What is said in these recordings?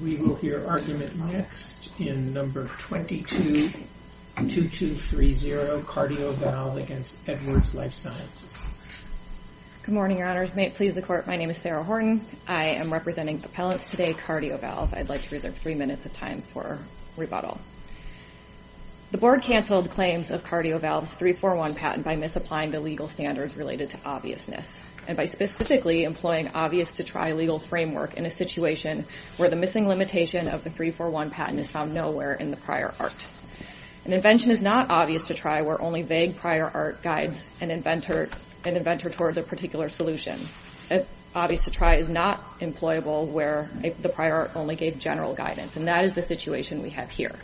We will hear argument next in No. 222230, Cardiovalve v. Edwards Lifesciences. Good morning, Your Honors. May it please the Court, my name is Sarah Horton. I am representing appellants today, Cardiovalve. I'd like to reserve three minutes of time for rebuttal. The Board canceled claims of Cardiovalve's 341 patent by misapplying the legal standards related to obviousness, and by specifically employing obvious-to-try legal framework in a situation where the missing limitation of the 341 patent is found nowhere in the prior art. An invention is not obvious-to-try where only vague prior art guides an inventor towards a particular solution. Obvious-to-try is not employable where the prior art only gave general guidance, and that is the situation we have here.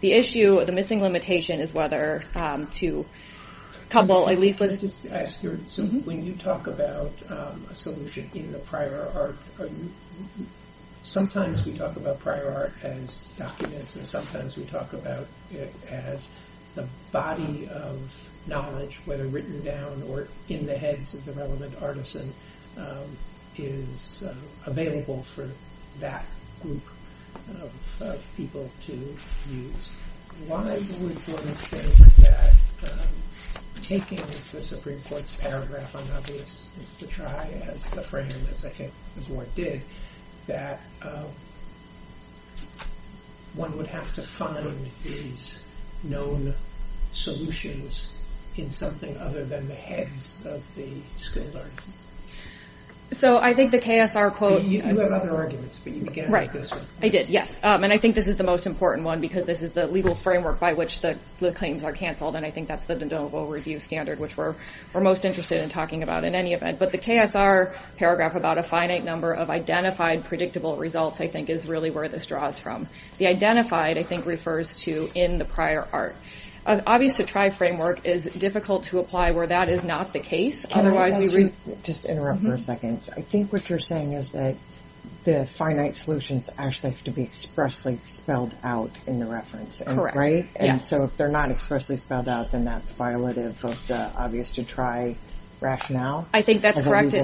The issue, the missing limitation, is whether to couple a leaflet... When you talk about a solution in the prior art, sometimes we talk about prior art as documents, and sometimes we talk about it as the body of knowledge, whether written down or in the heads of the relevant artisan, is available for that group of people to use. Why would one think that taking the Supreme Court's paragraph on obvious-to-try as the frame, as I think the Board did, that one would have to find these known solutions in something other than the heads of the skilled artisan? So I think the KSR quote... You have other arguments, but you began with this one. I did, yes. And I think this is the most important one, because this is the legal framework by which the claims are canceled, and I think that's the de novo review standard, which we're most interested in talking about in any event. But the KSR paragraph about a finite number of identified predictable results, I think, is really where this draws from. The identified, I think, refers to in the prior art. An obvious-to-try framework is difficult to apply where that is not the case. Can I ask you to just interrupt for a second? I think what you're saying is that the finite solutions actually have to be expressly spelled out in the reference, right? Correct, yes. And so if they're not expressly spelled out, then that's violative of the obvious-to-try rationale? I think that's correct,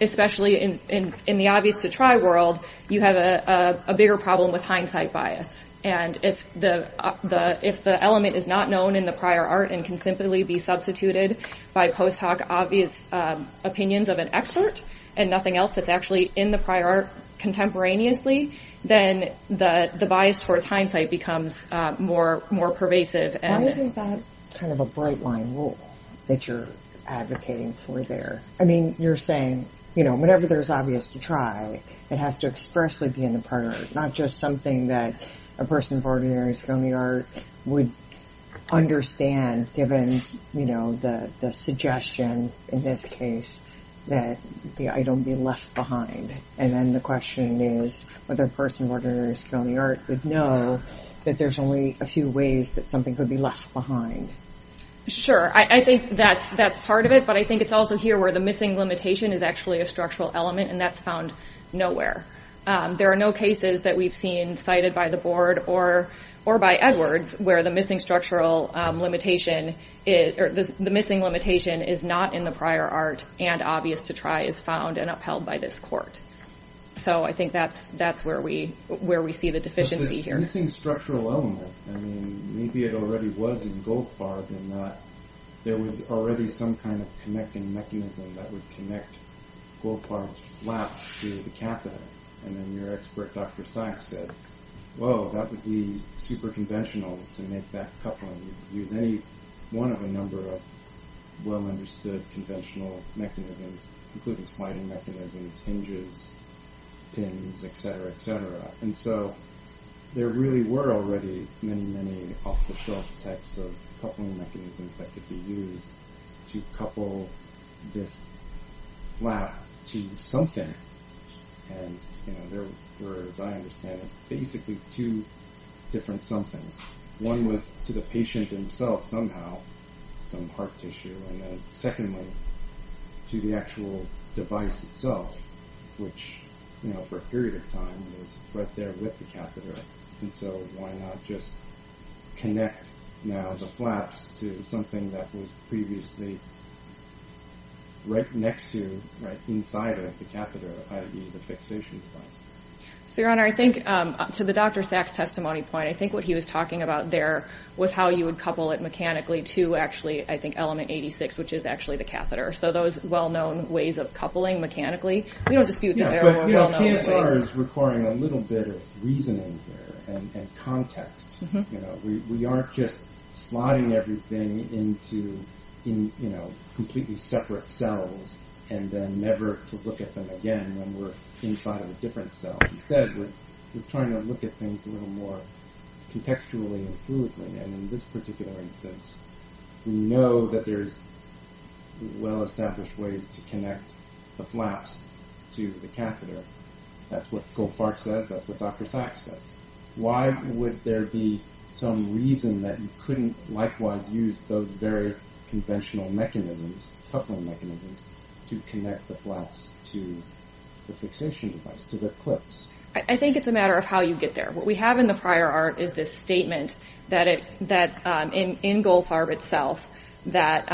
especially in the obvious-to-try world, you have a bigger problem with hindsight bias. And if the element is not known in the prior art and can simply be substituted by post hoc obvious opinions of an expert and nothing else that's actually in the prior art contemporaneously, then the bias towards hindsight becomes more pervasive. Why isn't that kind of a bright-line rule that you're advocating for there? I mean, you're saying, you know, whenever there's obvious-to-try, it has to expressly be in the prior art, not just something that a person of ordinary Sconey art would understand, given, you know, the suggestion in this case that the item be left behind. And then the question is whether a person of ordinary Sconey art would know that there's only a few ways that something could be left behind. Sure, I think that's part of it, but I think it's also here where the missing limitation is actually a structural element, and that's found nowhere. There are no cases that we've seen cited by the board or by Edwards where the missing structural limitation, or the missing limitation is not in the prior art and obvious-to-try is found and upheld by this court. So I think that's where we see the deficiency here. But the missing structural element, I mean, maybe it already was in Goldfarb and that there was already some kind of connecting mechanism that would connect Goldfarb's flap to the catheter. And then your expert, Dr. Sachs, said, whoa, that would be super conventional to make that coupling. Use any one of a number of well-understood conventional mechanisms, including sliding mechanisms, hinges, pins, etc., etc. And so there really were already many, many off-the-shelf types of coupling mechanisms that could be used to couple this flap to something. And there were, as I understand it, basically two different somethings. One was to the patient himself somehow, some heart tissue, and then secondly, to the actual device itself, which for a period of time was right there with the catheter. And so why not just connect now the flaps to something that was previously right next to, right inside of the catheter, i.e. the fixation device. So, Your Honor, I think to the Dr. Sachs' testimony point, I think what he was talking about there was how you would couple it mechanically to actually, I think, element 86, which is actually the catheter. So those well-known ways of coupling mechanically, we don't dispute KSR is requiring a little bit of reasoning here, and context. We aren't just sliding everything into completely separate cells and then never to look at them again when we're inside of a different cell. Instead, we're trying to look at things a little more contextually and fluidly. And in this particular instance, we know that there's well-established ways to connect the flaps to the catheter. That's what Goldfarb says, that's what Dr. Sachs says. Why would there be some reason that you couldn't likewise use those very conventional mechanisms, coupling mechanisms, to connect the flaps to the fixation device, to the clips? I think it's a matter of how you get there. What we have in the prior art is this statement that, in Goldfarb itself, that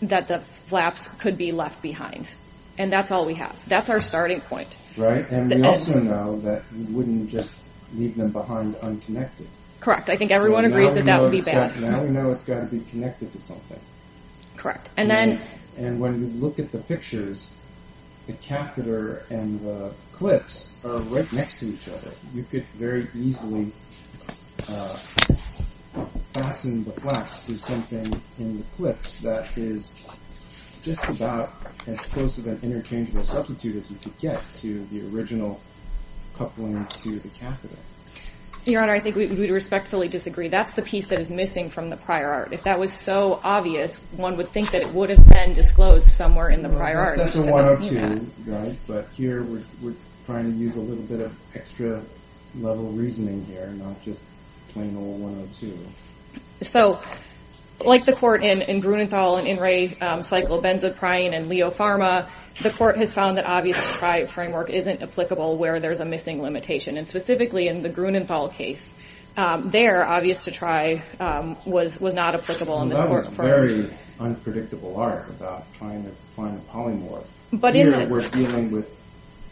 the flaps could be left behind. And that's all we have. That's our starting point. Right. And we also know that you wouldn't just leave them behind unconnected. Correct. I think everyone agrees that that would be bad. Now we know it's got to be connected to something. Correct. And then... And when you look at the pictures, the catheter and the clips are right next to each other. You could very easily fasten the flaps to something in the clips that is just about as close of an interchangeable substitute as you could get to the original coupling to the catheter. Your Honor, I think we would respectfully disagree. That's the piece that is missing from the prior art. If that was so obvious, one would think that it would have been disclosed somewhere in the prior art. That's a 102, but here we're trying to use a little bit of extra level reasoning here, not just plain old 102. So, like the court in Grunenthal and In Re Cyclobenzaprine and Leo Pharma, the court has found that obviously the TRI framework isn't applicable where there's a missing limitation. And specifically in the Grunenthal case, there, obvious to TRI, was not applicable in this court. It's a very unpredictable art about trying to find a polymorph. But in that context... Here, we're dealing with,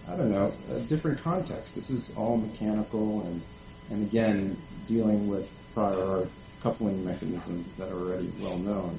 I don't know, a different context. This is all mechanical and, again, dealing with prior coupling mechanisms that are already well known.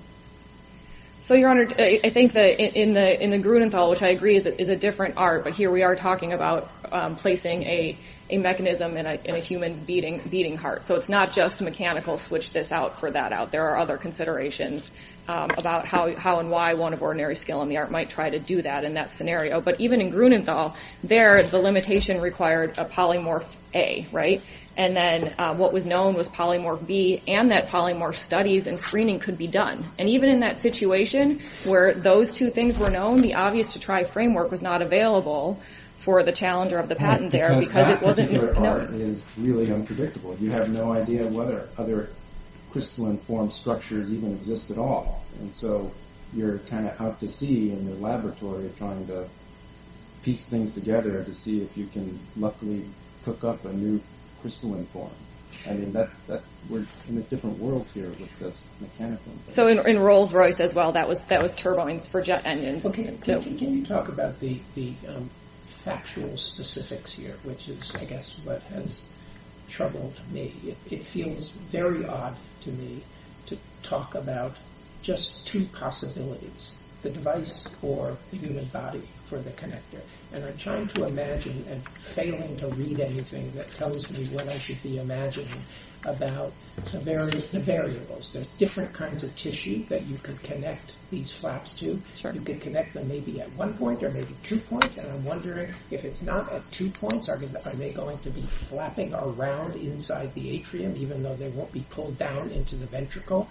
So, Your Honor, I think that in the Grunenthal, which I agree is a different art, but here we are talking about placing a mechanism in a human's beating heart. So, it's not just mechanical, switch this out for that out. There are other considerations about how and why one of ordinary skill in the art might try to do that in that scenario. But even in Grunenthal, there, the limitation required a polymorph A, right? And then what was known was polymorph B and that polymorph studies and screening could be done. And even in that situation where those two things were known, the obvious to TRI framework was not available for the challenger of the patent there because it wasn't... The art is really unpredictable. You have no idea whether other crystalline form structures even exist at all. And so, you're kind of out to sea in the laboratory trying to piece things together to see if you can luckily hook up a new crystalline form. I mean, we're in a different world here with this mechanical... So, in Rolls-Royce as well, that was turbines for jet engines. Can you talk about the factual specifics here, which is, I guess, what has troubled me. It feels very odd to me to talk about just two possibilities, the device or the human body for the connector. And I'm trying to imagine and failing to read anything that tells me what I should be imagining about the variables. There are different kinds of tissue that you can connect them maybe at one point or maybe two points. And I'm wondering if it's not at two points, are they going to be flapping around inside the atrium even though they won't be pulled down into the ventricle?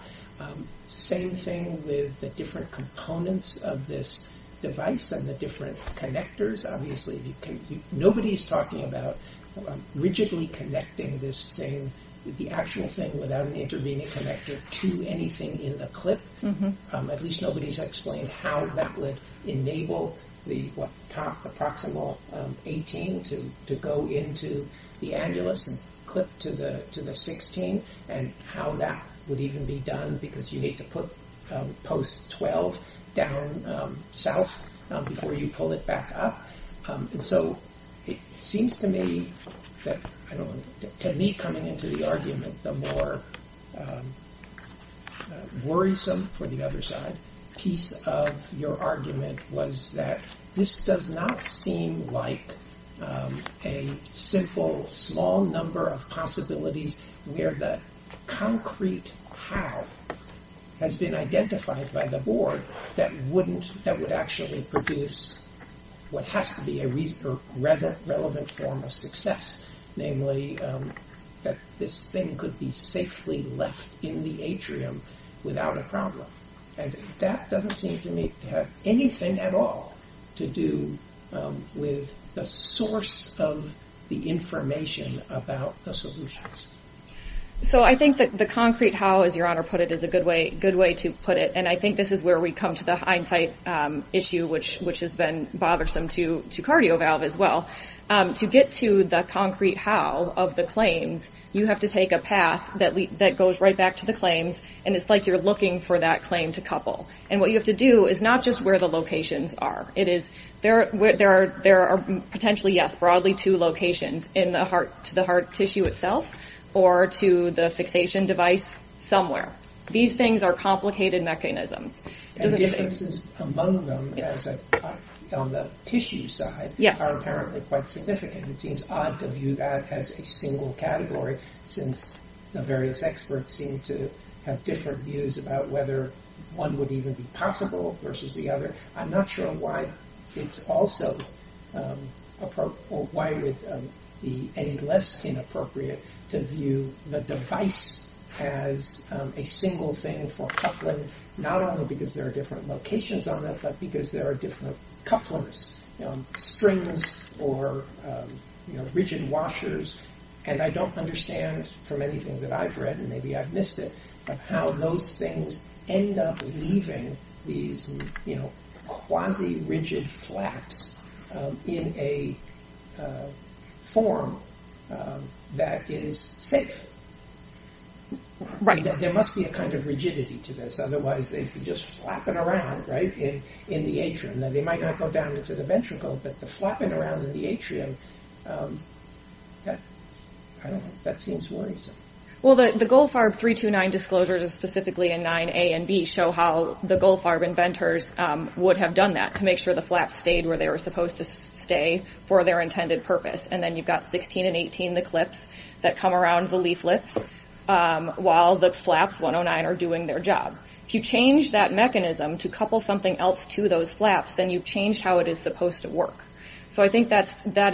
Same thing with the different components of this device and the different connectors. Obviously, nobody's talking about rigidly connecting this thing, the actual thing without an intervening connector to anything in the clip. At least nobody's explained how that would enable the top, the proximal 18 to go into the annulus and clip to the 16 and how that would even be done because you need to put post 12 down south before you pull it back up. So, it seems to me that, I don't know, to me coming into the argument, the more worrisome for the other side piece of your argument was that this does not seem like a simple small number of possibilities where the concrete how has been identified by the board that wouldn't, that would actually produce what has to be a relevant form of success. Namely, that this thing could be safely left in the atrium without a problem. And that doesn't seem to me to have anything at all to do with the source of the information about the solutions. So, I think that the concrete how, as your honor put it, is a good way to put it. And I think this is where we come to the hindsight issue which has been bothersome to CardioValve as well. To get to the concrete how of the claims, you have to take a path that goes right back to the claims and it's like you're looking for that claim to couple. And what you have to do is not just where the locations are. It is, there are potentially, yes, broadly two locations. In the heart, to the heart tissue itself or to the fixation device somewhere. These things are complicated mechanisms. And differences among them on the tissue side are apparently quite significant. It seems odd to view that as a single category since the various experts seem to have different views about whether one would even be possible versus the other. I'm not sure why it's also appropriate or why it would be any less inappropriate to view the device as a single thing for coupling not only because there are different locations on it but because there are different couplers, strings or rigid washers. And I don't understand from anything that I've read, and maybe I've missed it, how those things end up leaving these quasi-rigid flaps in a form that is safe. There must be a kind of rigidity to this otherwise they'd be just flapping around in the atrium. They might not go down into the ventricle but the flapping around in the atrium, that seems worrisome. Well, the Goldfarb 329 disclosures, specifically in 9A and B, show how the Goldfarb inventors would have done that to make sure the flaps stayed where they were supposed to stay for their intended purpose. And then you've got 16 and 18, the clips, that come around the leaflets while the flaps 109 are doing their job. If you change that mechanism to couple something else to those flaps, then you've changed how it is supposed to work. So I think that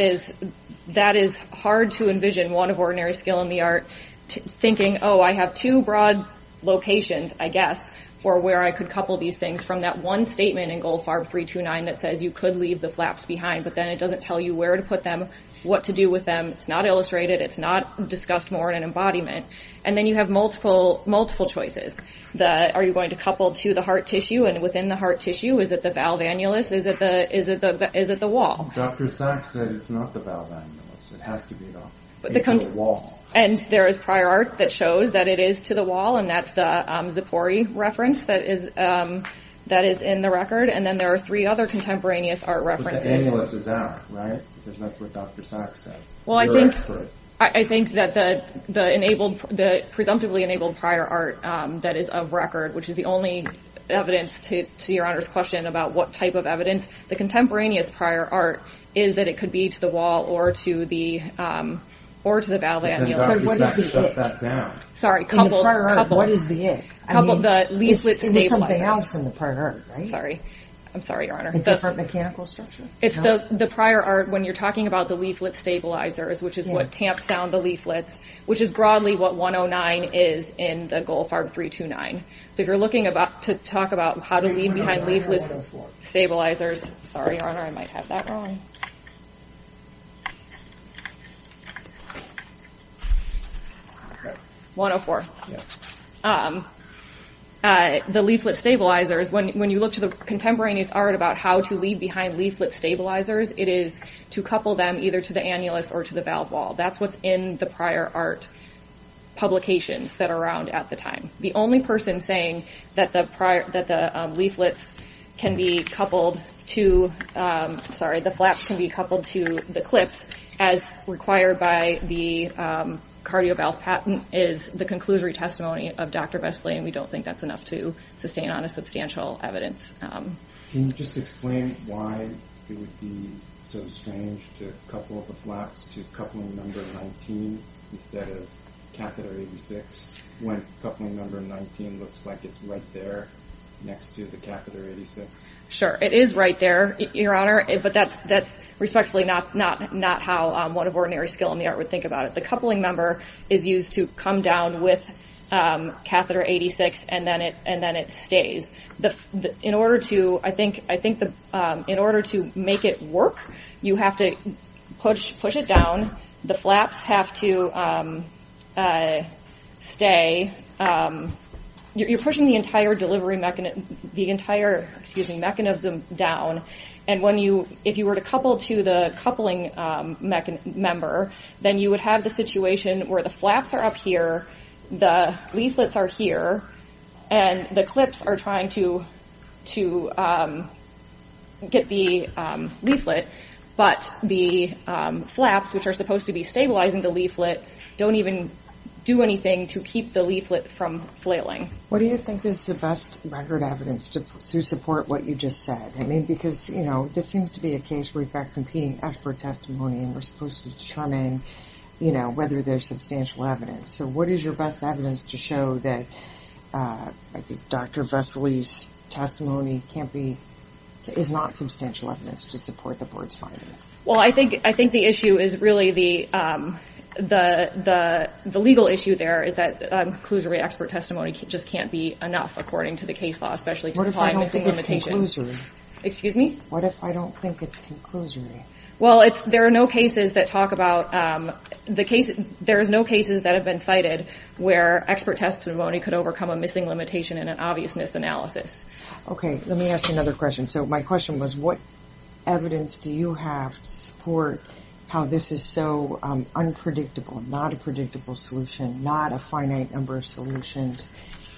is hard to envision one of Ordinary Skill in the Art thinking, oh, I have two broad locations, I guess, for where I could couple these things from that one statement in Goldfarb 329 that says you could leave the flaps behind but then it doesn't tell you where to put them, what to do with them, it's not illustrated, it's not discussed more in an embodiment. And then you have multiple choices. Are you going to couple to the heart tissue and within the heart tissue? Is it the valve annulus? Is it the wall? Dr. Sachs said it's not the valve annulus. It has to be the wall. And there is prior art that shows that it is to the wall and that's the Zippori reference that is in the record. And then there are three other contemporaneous art references. But the annulus is out, right? Because that's what Dr. Sachs said. You're an expert. I think that the presumptively enabled prior art that is of record, which is the only evidence to Your Honor's question about what type of evidence, the contemporaneous prior art is that it could be to the wall or to the valve annulus. But what is the it? In the prior art, what is the it? The leaflet stabilizers. It's something else in the prior art, right? I'm sorry, Your Honor. A different mechanical structure? It's the prior art when you're talking about the leaflet stabilizers, which is what tamps down the leaflets, which is broadly what 109 is in the Goldfarb 329. So if you're looking to talk about how to leave behind leaflet stabilizers. Sorry, Your Honor, I might have that wrong. 104. The leaflet stabilizers, when you look to the contemporaneous art about how to leave behind leaflet stabilizers, it is to couple them either to the annulus or to the valve wall. That's what's in the prior art publications that are around at the time. The only person saying that the leaflets can be coupled to, sorry, the flaps can be coupled to the clips as required by the cardio valve patent is the conclusory testimony of Dr. Vestley, and we don't think that's enough to sustain on a substantial evidence. Can you just explain why it would be so strange to couple the flaps to coupling number 19 instead of catheter 86 when coupling number 19 looks like it's right there next to the catheter 86? Sure, it is right there, Your Honor, but that's respectfully not how one of ordinary skill in the art would think about it. The coupling number is used to come down with catheter 86 and then it stays. In order to make it work, you have to push it down. The flaps have to stay. You're pushing the entire mechanism down, and if you were to couple to the coupling member, then you would have the situation where the flaps are up here, the leaflets are here, and the clips are trying to get the leaflet, but the flaps, which are supposed to be stabilizing the leaflet, don't even do anything to keep the leaflet from flailing. What do you think is the best record evidence to support what you just said? I mean, because, you know, this seems to be a case where you've got competing expert testimony and we're supposed to determine, you know, whether there's substantial evidence. So what is your best evidence to show that Dr. Vesely's testimony can't be, is not substantial evidence to support the Board's finding? Well, I think the issue is really the legal issue there is that conclusory expert testimony just can't be enough according to the case law, especially because it's probably a limiting limitation. What if I don't think it's conclusory? Excuse me? What if I don't think it's conclusory? Well, there are no cases that have been cited where expert testimony could overcome a missing limitation in an obviousness analysis. Okay, let me ask you another question. So my question was, what evidence do you have to support how this is so unpredictable, not a predictable solution, not a finite number of solutions?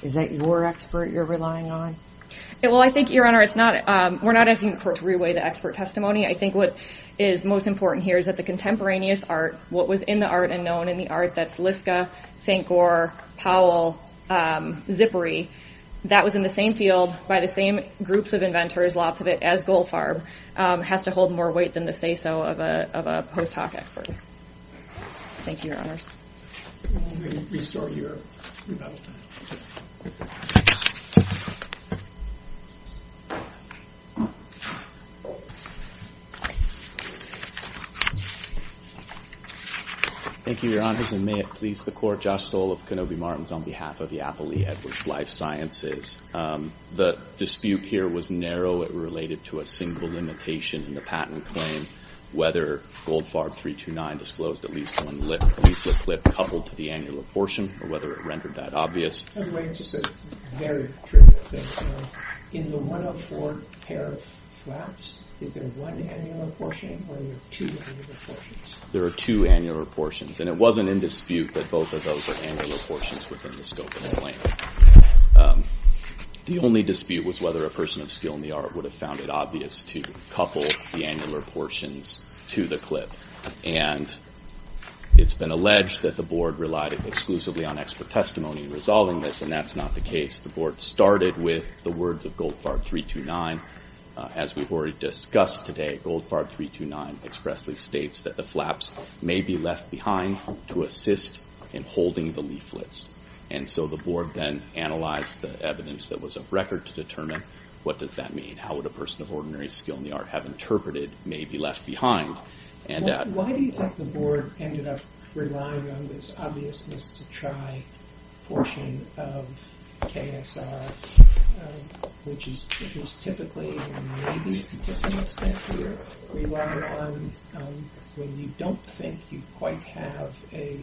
Is that your expert you're relying on? Well, I think, Your Honor, we're not asking the court to re-weigh the expert testimony. I think what is most important here is that the contemporaneous art, what was in the art and known in the art, that's Liska, St. Gore, Powell, Zippery, that was in the same field by the same groups of inventors, lots of it, as Goldfarb, has to hold more weight than the say-so of a post-hoc expert. Thank you, Your Honors. Let me restart here. Thank you, Your Honors, and may it please the Court, Josh Stoll of Kenobi Martins on behalf of the Appley Edwards Life Sciences. The dispute here was narrow. It related to a single limitation in the patent claim, whether Goldfarb 329 disclosed at least one leaflet clip coupled to the annular portion or whether it rendered that obvious. There are two annular portions, and it wasn't in dispute that both of those are annular portions within the scope of the claim. The only dispute was whether a person of skill in the art would have found it obvious to couple the annular portions to the clip. And it's been alleged that the Board relied exclusively on expert testimony in resolving this, and that's not the case. The Board started with the words of Goldfarb 329. As we've already discussed today, Goldfarb 329 expressly states that the flaps may be left behind to assist in holding the leaflets. And so the Board then analyzed the evidence that was of record to determine what does that mean, and how would a person of ordinary skill in the art have interpreted may be left behind. Why do you think the Board ended up relying on this obviousness to try portion of KSR, which is typically and maybe to some extent here, relied on when you don't think you quite have a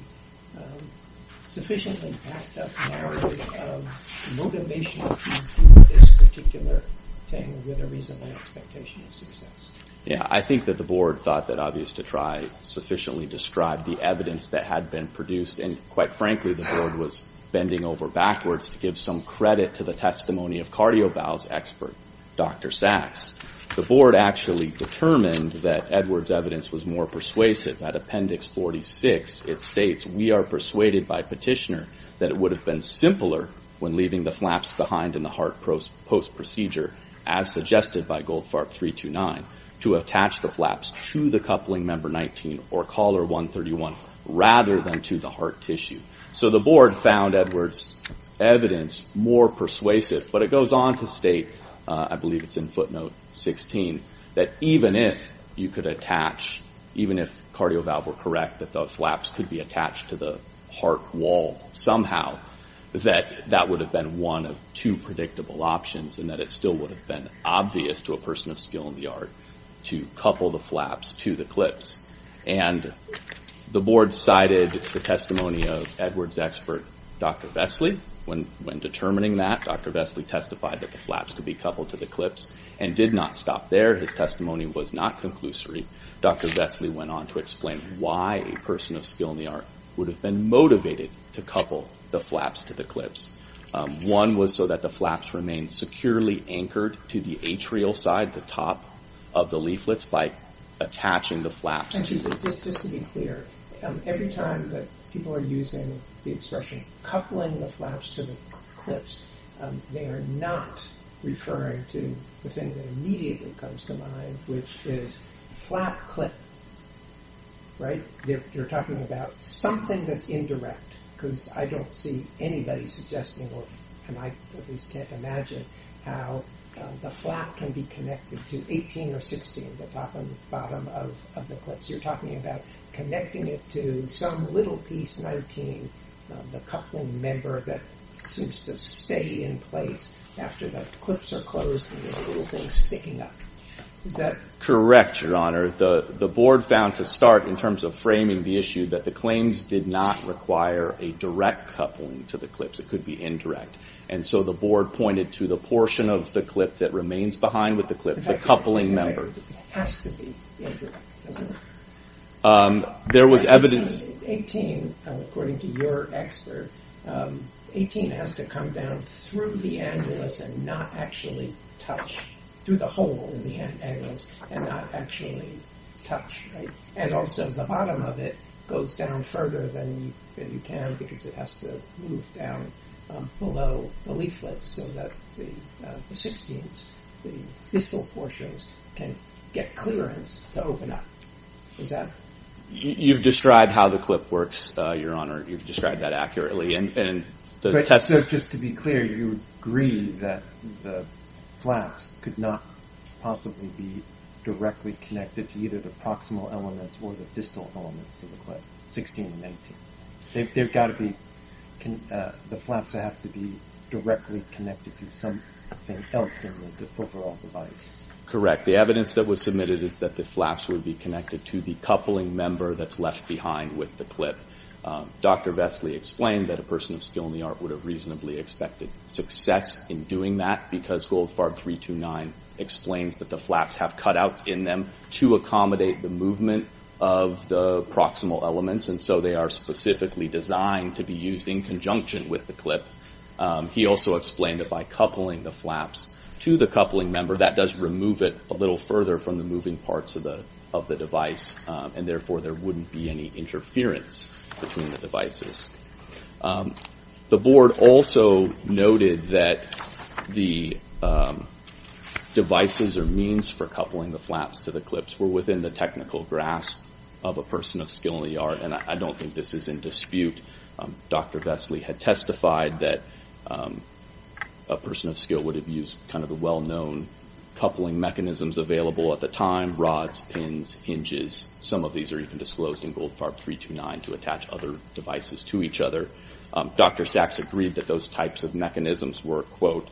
sufficiently backed up narrative of motivation to do this particular thing with a reasonable expectation of success? Yeah, I think that the Board thought that obvious to try sufficiently described the evidence that had been produced, and quite frankly, the Board was bending over backwards to give some credit to the testimony of CardioVal's expert, Dr. Sachs. The Board actually determined that Edwards' evidence was more persuasive. At Appendix 46, it states, we are persuaded by Petitioner that it would have been simpler when leaving the flaps behind in the heart post-procedure, as suggested by Goldfarb 329, to attach the flaps to the coupling member 19 or collar 131 rather than to the heart tissue. So the Board found Edwards' evidence more persuasive, but it goes on to state, I believe it's in footnote 16, that even if you could attach, even if CardioVal were correct, that the flaps could be attached to the heart wall somehow, that that would have been one of two predictable options, and that it still would have been obvious to a person of skill in the art to couple the flaps to the clips. And the Board cited the testimony of Edwards' expert, Dr. Vesely. When determining that, Dr. Vesely testified that the flaps could be coupled to the clips and did not stop there. His testimony was not conclusory. Dr. Vesely went on to explain why a person of skill in the art would have been motivated to couple the flaps to the clips. One was so that the flaps remained securely anchored to the atrial side, the top of the leaflets, by attaching the flaps to... Just to be clear, every time that people are using the expression coupling the flaps to the clips, they are not referring to the thing that immediately comes to mind, which is flap clip. You're talking about something that's indirect, because I don't see anybody suggesting, and I at least can't imagine, how the flap can be connected to 18 or 16, the top and bottom of the clips. You're talking about connecting it to some little piece, 19, the coupling member that seems to stay in place after the clips are closed and there's a little thing sticking up. Is that... Correct, Your Honor. The board found to start, in terms of framing the issue, that the claims did not require a direct coupling to the clips. It could be indirect, and so the board pointed to the portion of the clip that remains behind with the clip, the coupling member. It has to be indirect, doesn't it? There was evidence... ...and not actually touch, through the hole in the angles, and not actually touch. And also, the bottom of it goes down further than you can, because it has to move down below the leaflets, so that the 16s, the distal portions, can get clearance to open up. Is that... You've described how the clip works, Your Honor. You've described that accurately. Just to be clear, you agree that the flaps could not possibly be directly connected to either the proximal elements or the distal elements of the clip, 16 and 19. They've got to be... The flaps have to be directly connected to something else in the overall device. Correct. The evidence that was submitted is that the flaps would be connected to the coupling member that's left behind with the clip. Dr. Vestley explained that a person of skill in the art would have reasonably expected success in doing that, because Goldfarb 329 explains that the flaps have cutouts in them to accommodate the movement of the proximal elements, and so they are specifically designed to be used in conjunction with the clip. He also explained that by coupling the flaps to the coupling member, that does remove it a little further from the moving parts of the device, and therefore there wouldn't be any interference between the devices. The board also noted that the devices or means for coupling the flaps to the clips were within the technical grasp of a person of skill in the art, and I don't think this is in dispute. Dr. Vestley had testified that a person of skill would have used kind of the well-known coupling mechanisms available at the time, such as rods, pins, hinges. Some of these are even disclosed in Goldfarb 329 to attach other devices to each other. Dr. Sachs agreed that those types of mechanisms were, quote,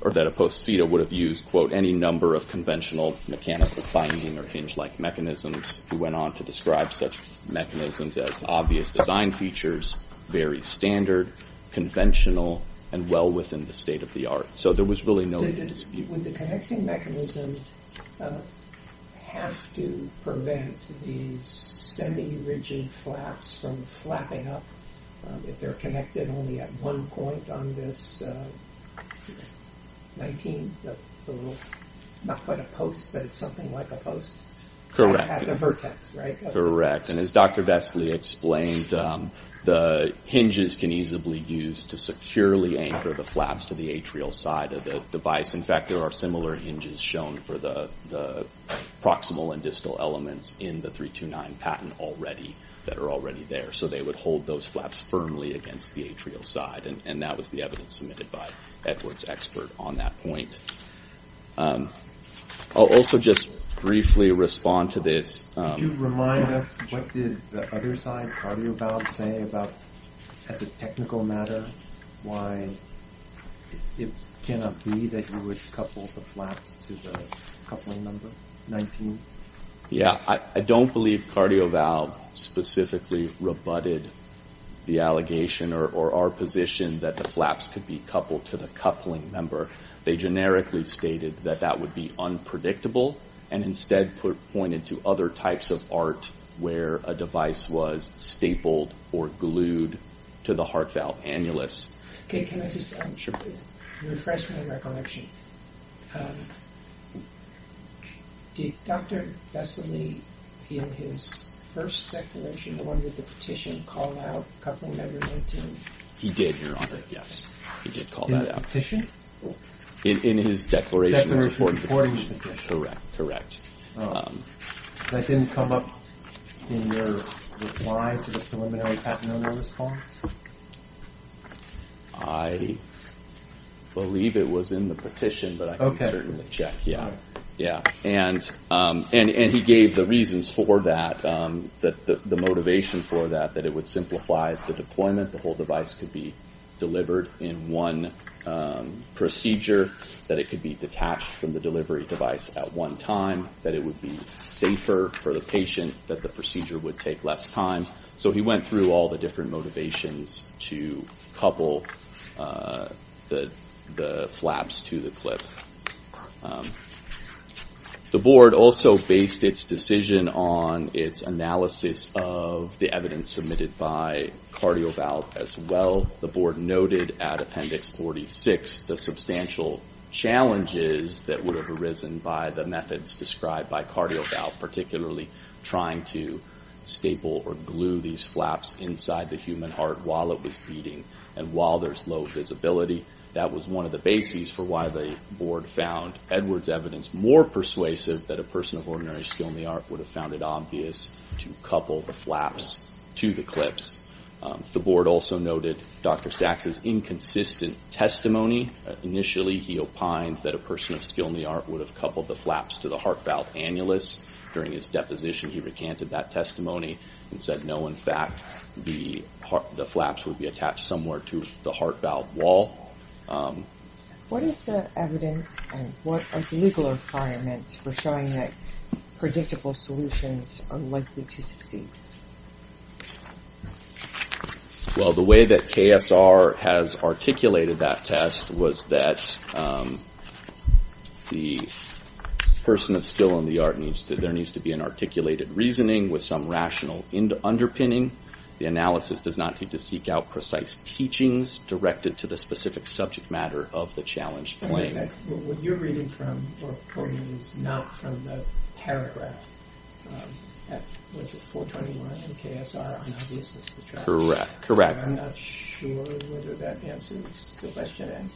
or that a post-theta would have used, quote, any number of conventional mechanical binding or hinge-like mechanisms. He went on to describe such mechanisms as obvious design features, very standard, conventional, and well within the state of the art. So there was really no need to dispute. Would the connecting mechanism have to prevent these semi-rigid flaps from flapping up if they're connected only at one point on this 19th? It's not quite a post, but it's something like a post at the vertex, right? Correct, and as Dr. Vestley explained, the hinges can easily be used to securely anchor the flaps to the atrial side of the device. In fact, there are similar hinges shown for the proximal and distal elements in the 329 patent already that are already there. So they would hold those flaps firmly against the atrial side, and that was the evidence submitted by Edward's expert on that point. I'll also just briefly respond to this. Could you remind us what did the other side, Cardioval, say about, as a technical matter, why it cannot be that you would couple the flaps to the coupling number 19? Yeah, I don't believe Cardioval specifically rebutted the allegation or our position that the flaps could be coupled to the coupling number. They generically stated that that would be unpredictable and instead pointed to other types of art where a device was stapled or glued to the heart valve annulus. Okay, can I just refresh my recollection? Did Dr. Vestley, in his first declaration, the one with the petition, call out coupling number 19? He did, Your Honor, yes, he did call that out. In the petition? In his declaration. In the reporting petition. Correct, correct. That didn't come up in your reply to the preliminary patent owner response? I believe it was in the petition, but I can certainly check, yeah. And he gave the reasons for that, the motivation for that, that it would simplify the deployment, the whole device could be delivered in one procedure, that it could be detached from the delivery device at one time, that it would be safer for the patient, that the procedure would take less time. So he went through all the different motivations to couple the flaps to the clip. The Board also based its decision on its analysis of the evidence submitted by CardioValve as well. The Board noted at Appendix 46 the substantial challenges that would have arisen by the methods described by CardioValve, particularly trying to staple or glue these flaps inside the human heart while it was beating. And while there's low visibility, that was one of the bases for why the Board found Edwards' evidence more persuasive that a person of ordinary skill in the art would have found it obvious to couple the flaps to the clips. The Board also noted Dr. Stax's inconsistent testimony. Initially, he opined that a person of skill in the art would have coupled the flaps to the heart valve annulus. During his deposition, he recanted that testimony and said, no, in fact, the flaps would be attached somewhere to the heart valve wall. What is the evidence and what are the legal requirements Well, the way that KSR has articulated that test was that the person of skill in the art needs to, there needs to be an articulated reasoning with some rational underpinning. The analysis does not need to seek out precise teachings directed to the specific subject matter of the challenged claim. What you're reading from, or quoting, is not from the paragraph. Was it 421 in KSR on obviousness? Correct, correct. I'm not sure whether that answers the question.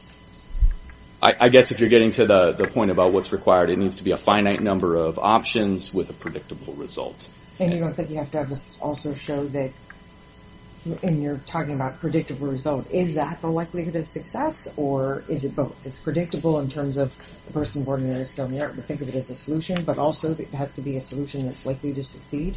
I guess if you're getting to the point about what's required, it needs to be a finite number of options with a predictable result. And you don't think you have to also show that, and you're talking about predictable result, is that the likelihood of success or is it both? Is it that it's predictable in terms of the person born in the art, we think of it as a solution, but also it has to be a solution that's likely to succeed?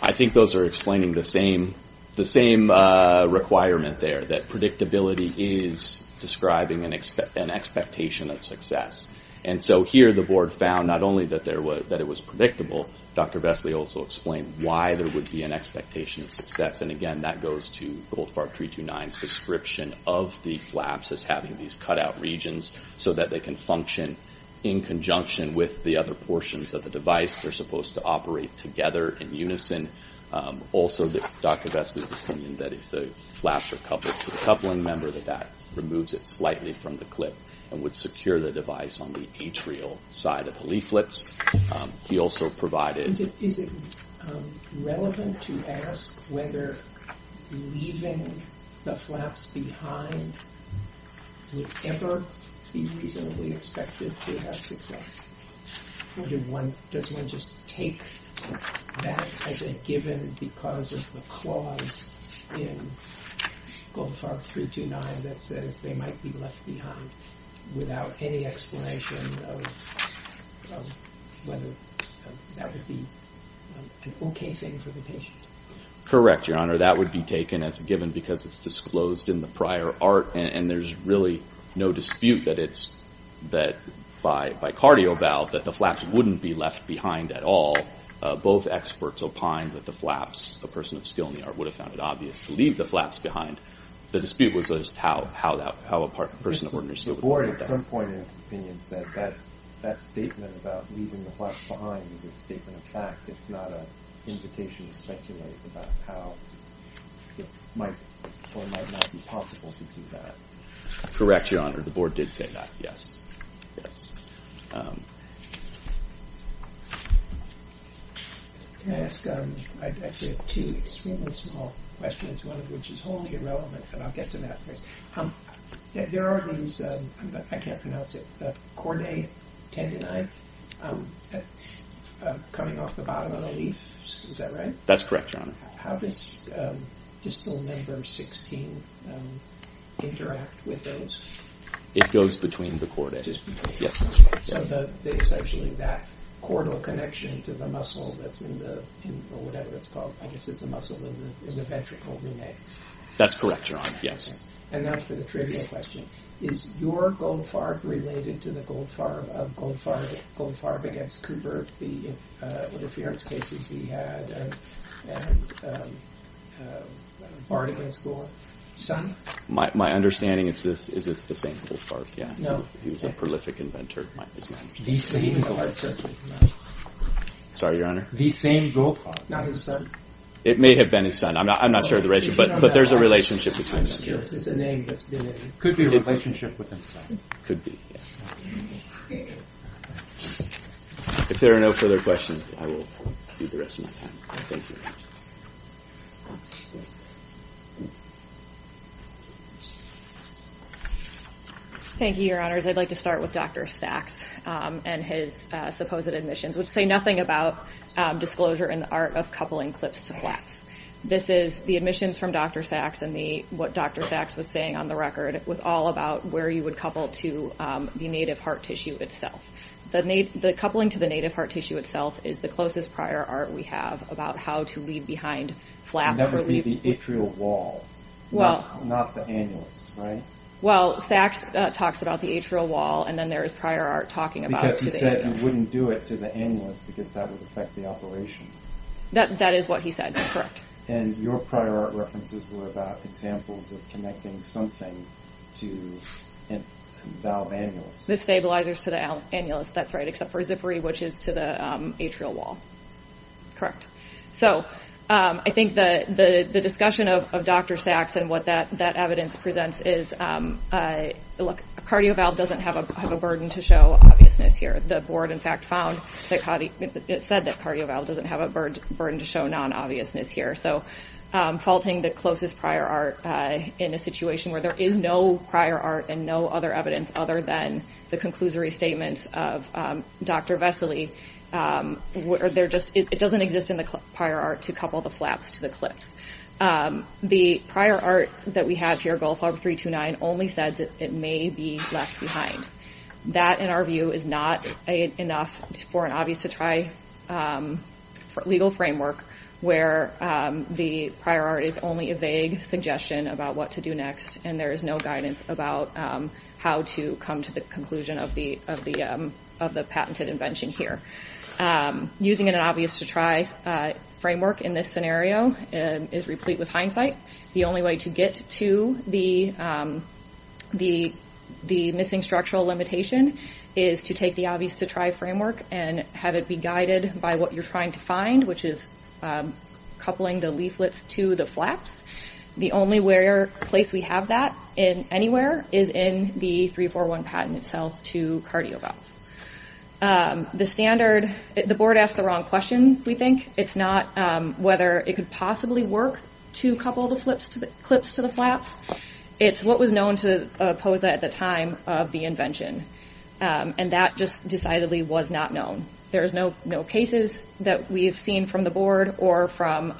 I think those are explaining the same requirement there, that predictability is describing an expectation of success. And so here the board found not only that it was predictable, Dr. Vestley also explained why there would be an expectation of success. And, again, that goes to Goldfarb 329's description of the flaps as having these cutout regions so that they can function in conjunction with the other portions of the device. They're supposed to operate together in unison. Also, Dr. Vestley's opinion that if the flaps are coupled to the coupling member, that that removes it slightly from the clip and would secure the device on the atrial side of the leaflets. He also provided... Is it relevant to ask whether leaving the flaps behind would ever be reasonably expected to have success? Or does one just take that as a given because of the clause in Goldfarb 329 that says they might be left behind without any explanation of whether that would be an okay thing for the patient? Correct, Your Honor. That would be taken as a given because it's disclosed in the prior art and there's really no dispute that it's by cardio valve that the flaps wouldn't be left behind at all. Both experts opined that the flaps, the person of skill in the art would have found it obvious to leave the flaps behind. The dispute was just how a person of ordinary skill would find that. The Board at some point in its opinion said that statement about leaving the flaps behind is a statement of fact. It's not an invitation to speculate about how it might or might not be possible to do that. Correct, Your Honor. The Board did say that, yes. Can I ask two extremely small questions, one of which is wholly irrelevant and I'll get to that later. There are these, I can't pronounce it, chordae tendonae coming off the bottom of the leaf. Is that right? That's correct, Your Honor. How does distal number 16 interact with those? It goes between the chordae. So it's actually that chordal connection to the muscle that's in the, or whatever it's called, I guess it's a muscle in the ventricle. That's correct, Your Honor, yes. And now for the trivial question. Is your goldfarb related to the goldfarb of goldfarb against Cooper, the interference cases he had, and Bard against Gore? My understanding is it's the same goldfarb. He was a prolific inventor. The same goldfarb. Sorry, Your Honor? The same goldfarb, not his son. It may have been his son. I'm not sure of the ratio, but there's a relationship between them. It's a name that's been in, could be a relationship with his son. Could be, yes. If there are no further questions, I will see the rest of my time. Thank you. Thank you, Your Honors. I'd like to start with Dr. Sachs and his supposed admissions, which say nothing about disclosure in the art of coupling clips to flaps. The admissions from Dr. Sachs and what Dr. Sachs was saying on the record was all about where you would couple to the native heart tissue itself. The coupling to the native heart tissue itself is the closest prior art we have about how to leave behind flaps. It would never be the atrial wall, not the annulus, right? Well, Sachs talks about the atrial wall, and then there is prior art talking about the annulus. Because he said you wouldn't do it to the annulus because that would affect the operation. That is what he said, correct. And your prior art references were about examples of connecting something to a valve annulus. The stabilizers to the annulus, that's right, except for a zippery, which is to the atrial wall. Correct. So I think the discussion of Dr. Sachs and what that evidence presents is, look, a cardio valve doesn't have a burden to show obviousness here. The board, in fact, said that a cardio valve doesn't have a burden to show non-obviousness here. So faulting the closest prior art in a situation where there is no prior art and no other evidence other than the conclusory statements of Dr. Vesely, it doesn't exist in the prior art to couple the flaps to the clips. The prior art that we have here, Gulf Harbor 329, only says it may be left behind. That, in our view, is not enough for an obvious-to-try legal framework where the prior art is only a vague suggestion about what to do next and there is no guidance about how to come to the conclusion of the patented invention here. Using an obvious-to-try framework in this scenario is replete with hindsight. The only way to get to the missing structural limitation is to take the obvious-to-try framework and have it be guided by what you're trying to find, which is coupling the leaflets to the flaps. The only place we have that anywhere is in the 341 patent itself to cardio valves. The board asked the wrong question, we think. It's not whether it could possibly work to couple the clips to the flaps. It's what was known to POSA at the time of the invention, and that just decidedly was not known. There is no cases that we have seen from the board or from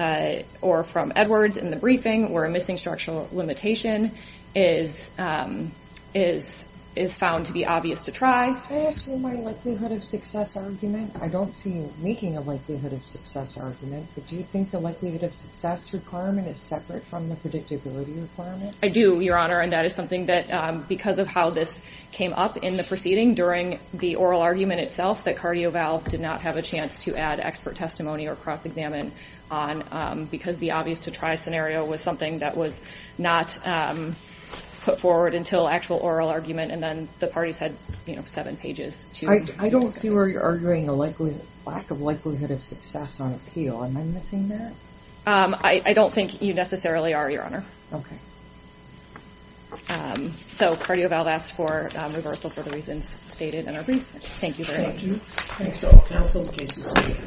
Edwards in the briefing where a missing structural limitation is found to be obvious-to-try. Can I ask you my likelihood-of-success argument? I don't see you making a likelihood-of-success argument, but do you think the likelihood-of-success requirement is separate from the predictability requirement? I do, Your Honor, and that is something that, because of how this came up in the proceeding during the oral argument itself, that CardioValve did not have a chance to add expert testimony or cross-examine on because the obvious-to-try scenario was something that was not put forward until actual oral argument, and then the parties had seven pages. I don't see where you're arguing a lack of likelihood-of-success on appeal. Am I missing that? I don't think you necessarily are, Your Honor. Okay. So CardioValve asked for reversal for the reasons stated in our briefing. Thank you very much. Thank you. Thank you.